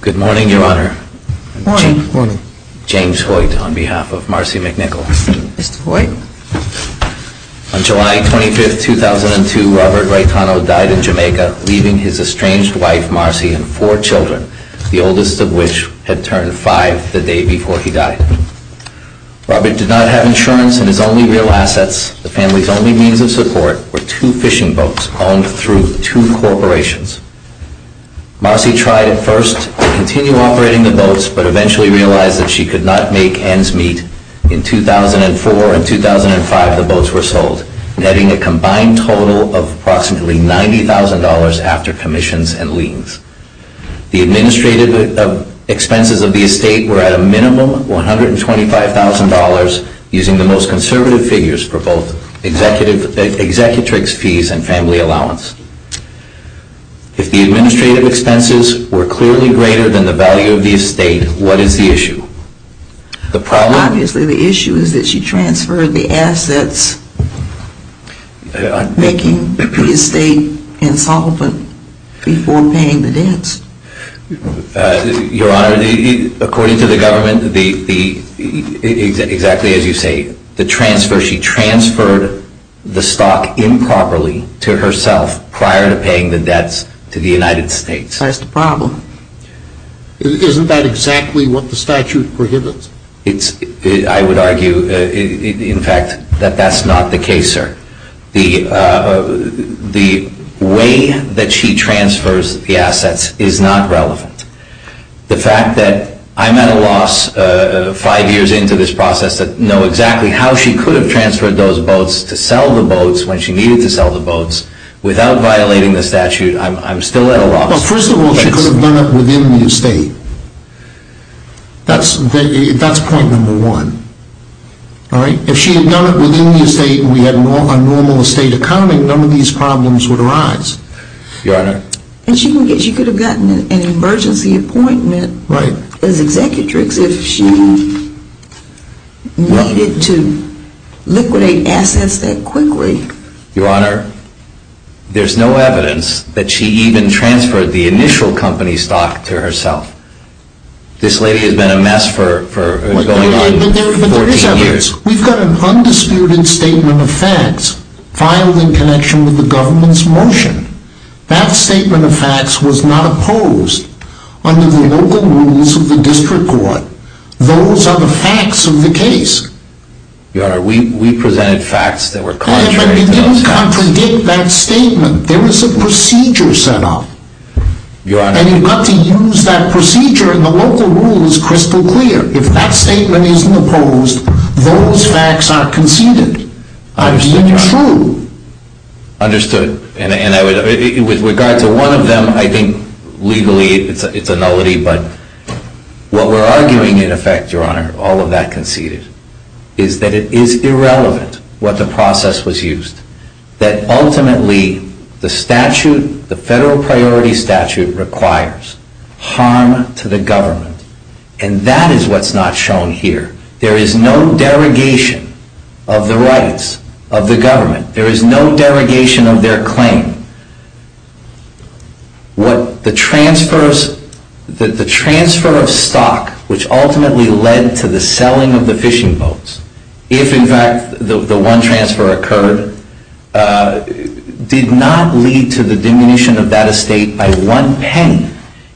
Good morning, Your Honor. James Hoyt, on behalf of Marcy McNicol. Mr. Hoyt. On July 25, 2002, Robert Raitano died in Jamaica, leaving his estranged wife, Marcy, and four children, the oldest of which had turned five the day before he died. Robert did not have insurance, and his only real assets, the family's only means of support, were two fishing boats owned through two corporations. Marcy tried at first to continue operating the boats, but eventually realized that she could not make ends meet. In 2004 and 2005, the boats were sold, netting a combined total of approximately $90,000 after commissions and liens. The administrative expenses of the estate were at a minimum of $125,000, using the most conservative figures for both executrix fees and family allowance. If the administrative expenses were clearly greater than the value of the estate, what is the issue? Your Honor, according to the government, exactly as you say, the transfer, she transferred the stock improperly to herself prior to paying the debts to the United States. That's the problem. Isn't that exactly what the statute prohibits? I would argue, in fact, that that's not the case, sir. The way that she transfers the assets is not relevant. The fact that I'm at a loss five years into this process to know exactly how she could have transferred those boats to sell the boats when she needed to sell the boats without violating the statute, I'm still at a loss. Well, first of all, she could have done it within the estate. That's point number one. If she had done it within the estate and we had a normal estate accounting, none of these problems would arise. And she could have gotten an emergency appointment as executrix if she needed to liquidate assets that quickly. Your Honor, there's no evidence that she even transferred the initial company stock to herself. This lady has been a mess for going on 14 years. But there is evidence. We've got an undisputed statement of facts filed in connection with the government's motion. That statement of facts was not opposed under the local rules of the district court. Those are the facts of the case. Your Honor, we presented facts that were contrary to those facts. But you didn't contradict that statement. There was a procedure set up. Your Honor. And you've got to use that procedure, and the local rule is crystal clear. If that statement isn't opposed, those facts aren't conceded. I understand, Your Honor. I mean, true. Understood. With regard to one of them, I think legally it's a nullity. But what we're arguing in effect, Your Honor, all of that conceded, is that it is irrelevant what the process was used. That ultimately the statute, the federal priority statute, requires harm to the government. And that is what's not shown here. There is no derogation of the rights of the government. There is no derogation of their claim. The transfer of stock, which ultimately led to the selling of the fishing boats, if in fact the one transfer occurred, did not lead to the diminution of that estate by one penny.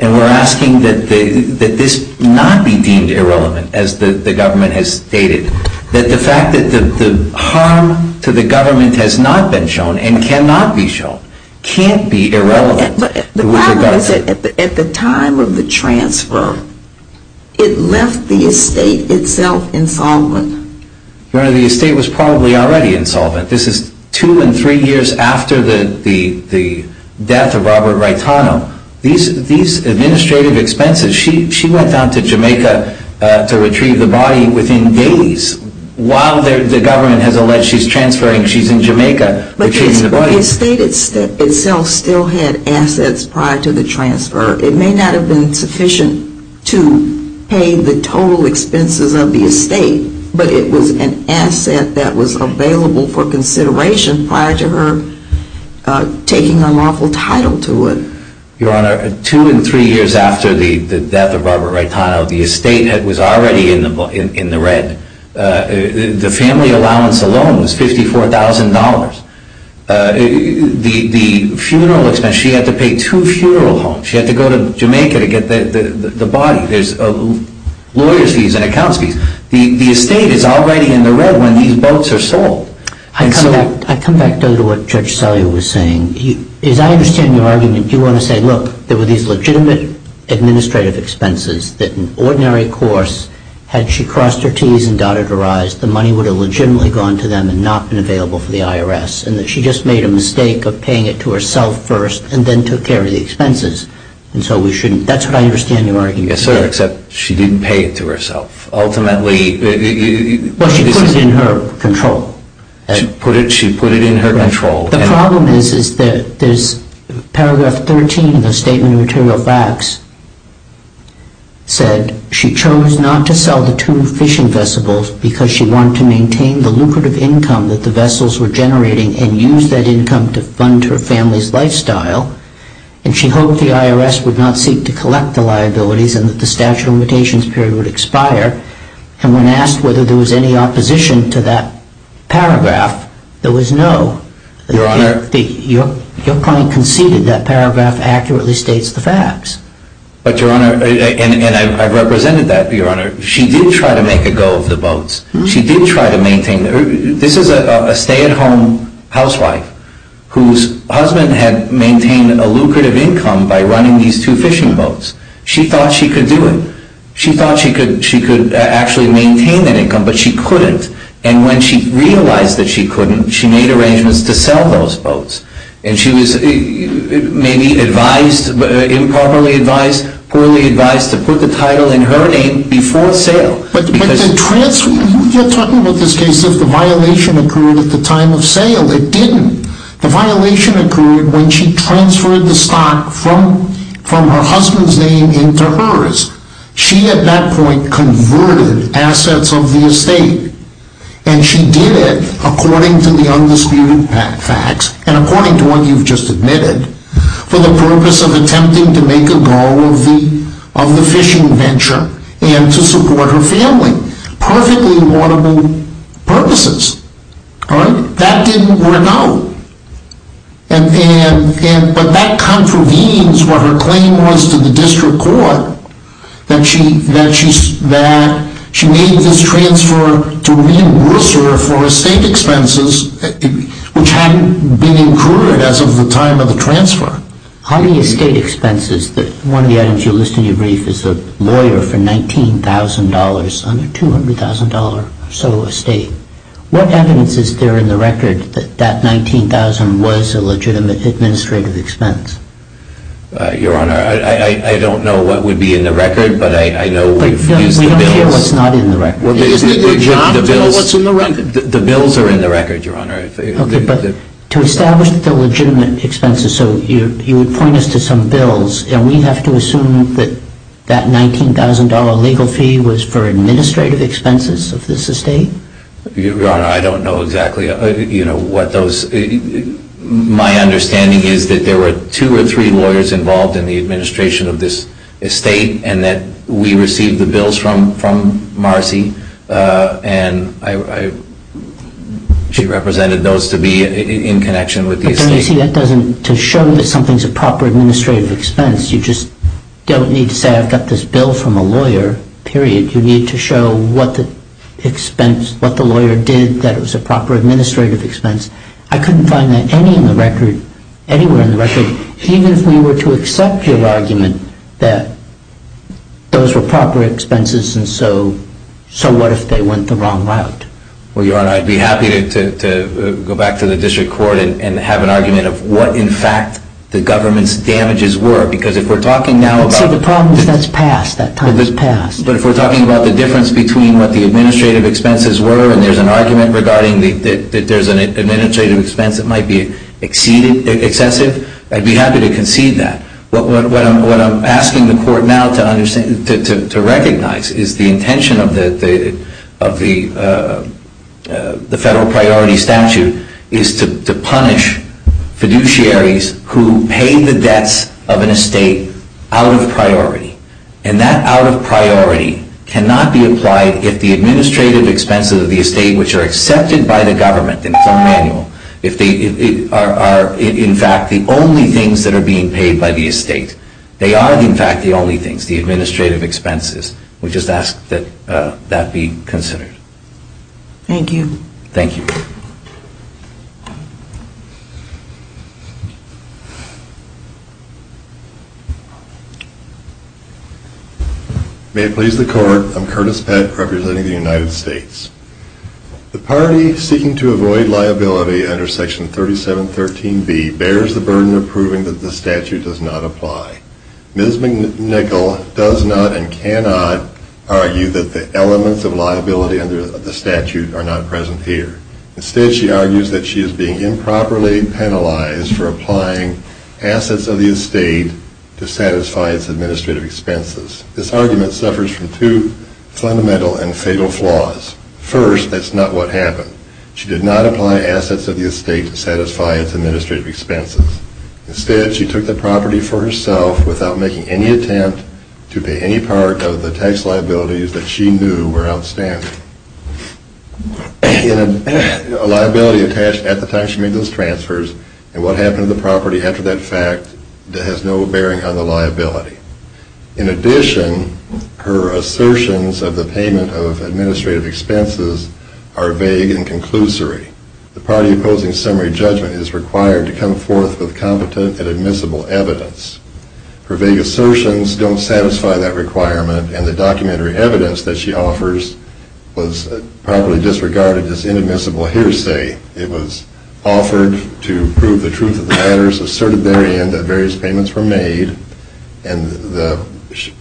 And we're asking that this not be deemed irrelevant, as the government has stated. That the fact that the harm to the government has not been shown, and cannot be shown, can't be irrelevant. But the problem is that at the time of the transfer, it left the estate itself insolvent. Your Honor, the estate was probably already insolvent. This is two and three years after the death of Robert Raitano. These administrative expenses, she went down to Jamaica to retrieve the body within days. While the government has alleged she's transferring, she's in Jamaica retrieving the body. But the estate itself still had assets prior to the transfer. It may not have been sufficient to pay the total expenses of the estate. But it was an asset that was available for consideration prior to her taking unlawful title to it. Your Honor, two and three years after the death of Robert Raitano, the estate was already in the red. The family allowance alone was $54,000. The funeral expense, she had to pay two funeral homes. She had to go to Jamaica to get the body. There's lawyers' fees and accounts fees. The estate is already in the red when these boats are sold. I come back to what Judge Sellier was saying. As I understand your argument, you want to say, look, there were these legitimate administrative expenses that in ordinary course, had she crossed her Ts and dotted her Is, the money would have legitimately gone to them and not been available for the IRS. And that she just made a mistake of paying it to herself first and then took care of the expenses. And so we shouldn't. That's what I understand your argument. Yes, sir. Except she didn't pay it to herself. Ultimately, this is in her control. She put it in her control. The problem is that there's paragraph 13 in the Statement of Material Facts said, she chose not to sell the two fishing vessels because she wanted to maintain the lucrative income that the vessels were generating and use that income to fund her family's lifestyle. And she hoped the IRS would not seek to collect the liabilities and that the statute of limitations period would expire. And when asked whether there was any opposition to that paragraph, there was no. Your Honor. Your client conceded that paragraph accurately states the facts. But, Your Honor, and I've represented that, Your Honor. She did try to make a go of the boats. She did try to maintain. This is a stay-at-home housewife whose husband had maintained a lucrative income by running these two fishing boats. She thought she could do it. She thought she could actually maintain that income, but she couldn't. And when she realized that she couldn't, she made arrangements to sell those boats. And she was maybe advised, improperly advised, poorly advised to put the title in her name before sale. You're talking about this case as if the violation occurred at the time of sale. It didn't. The violation occurred when she transferred the stock from her husband's name into hers. She, at that point, converted assets of the estate. And she did it according to the undisputed facts and according to what you've just admitted for the purpose of attempting to make a go of the fishing venture and to support her family. Perfectly laudable purposes. All right? That didn't work out. But that contravenes what her claim was to the district court, that she made this transfer to reimburse her for estate expenses, which hadn't been incurred as of the time of the transfer. How many estate expenses? One of the items you list in your brief is a lawyer for $19,000, under $200,000 or so estate. What evidence is there in the record that that $19,000 was a legitimate administrative expense? Your Honor, I don't know what would be in the record, but I know we've used the bills. We don't care what's not in the record. Isn't it your job to know what's in the record? The bills are in the record, Your Honor. Okay, but to establish the legitimate expenses, so you would point us to some bills, and we have to assume that that $19,000 legal fee was for administrative expenses of this estate? Your Honor, I don't know exactly what those – my understanding is that there were two or three lawyers involved in the administration of this estate and that we received the bills from Marcy, and she represented those to be in connection with the estate. But don't you see that doesn't – to show that something's a proper administrative expense, you just don't need to say I've got this bill from a lawyer, period. You need to show what the expense – what the lawyer did, that it was a proper administrative expense. I couldn't find that anywhere in the record. Even if we were to accept your argument that those were proper expenses, and so what if they went the wrong route? Well, Your Honor, I'd be happy to go back to the district court and have an argument of what, in fact, the government's damages were, because if we're talking now about – But see, the problem is that's past. That time is past. But if we're talking about the difference between what the administrative expenses were, and there's an argument regarding that there's an administrative expense that might be excessive, I'd be happy to concede that. What I'm asking the court now to recognize is the intention of the federal priority statute is to punish fiduciaries who pay the debts of an estate out of priority. And that out of priority cannot be applied if the administrative expenses of the estate, which are accepted by the government in the firm manual, are, in fact, the only things that are being paid by the estate. They are, in fact, the only things, the administrative expenses. We just ask that that be considered. Thank you. Thank you. May it please the court. I'm Curtis Pett, representing the United States. The party seeking to avoid liability under Section 3713B bears the burden of proving that the statute does not apply. Ms. McNichol does not and cannot argue that the elements of liability under the statute are not present here. Instead, she argues that she is being improperly penalized for applying assets of the estate to satisfy its administrative expenses. This argument suffers from two fundamental and fatal flaws. First, that's not what happened. She did not apply assets of the estate to satisfy its administrative expenses. Instead, she took the property for herself without making any attempt to pay any part of the tax liabilities that she knew were outstanding. A liability attached at the time she made those transfers, and what happened to the property after that fact has no bearing on the liability. In addition, her assertions of the payment of administrative expenses are vague and conclusory. The party opposing summary judgment is required to come forth with competent and admissible evidence. Her vague assertions don't satisfy that requirement, and the documentary evidence that she offers was properly disregarded as inadmissible hearsay. It was offered to prove the truth of the matters asserted therein that various payments were made, and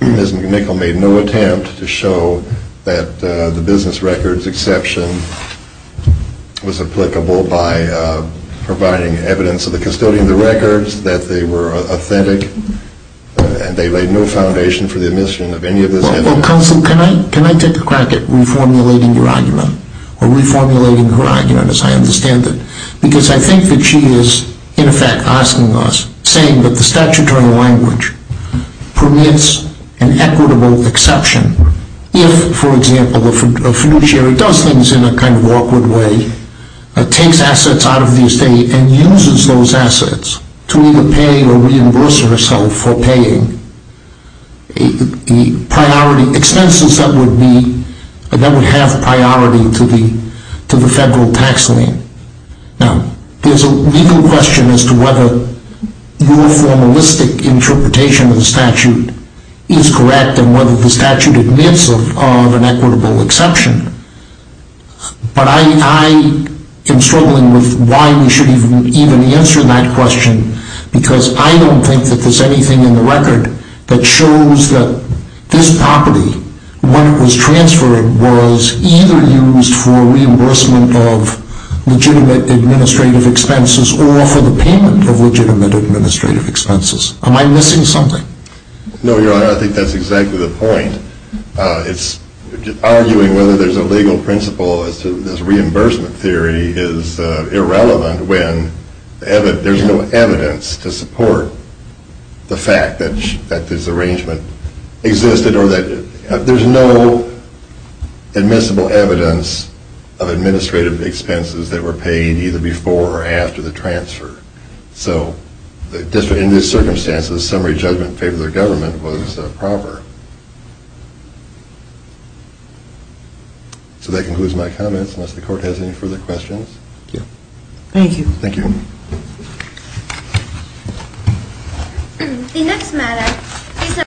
Ms. McNichol made no attempt to show that the business records exception was applicable by providing evidence of the custodian of the records, that they were authentic, and they laid no foundation for the admission of any of this evidence. Counsel, can I take a crack at reformulating your argument, or reformulating her argument as I understand it? Because I think that she is, in effect, asking us, saying that the statutory language permits an equitable exception if, for example, a fiduciary does things in a kind of awkward way, takes assets out of the estate, and uses those assets to either pay or reimburse herself for paying expenses that would have priority to the federal tax lien. Now, there's a legal question as to whether your formalistic interpretation of the statute is correct and whether the statute admits of an equitable exception, but I am struggling with why we should even answer that question, because I don't think that there's anything in the record that shows that this property, when it was transferred, was either used for reimbursement of legitimate administrative expenses or for the payment of legitimate administrative expenses. Am I missing something? No, Your Honor, I think that's exactly the point. It's arguing whether there's a legal principle as to this reimbursement theory is irrelevant when there's no evidence to support the fact that this arrangement existed or that there's no admissible evidence of administrative expenses that were paid either before or after the transfer. So in these circumstances, summary judgment in favor of the government was proper. So that concludes my comments, unless the Court has any further questions. Thank you. Thank you. Thank you.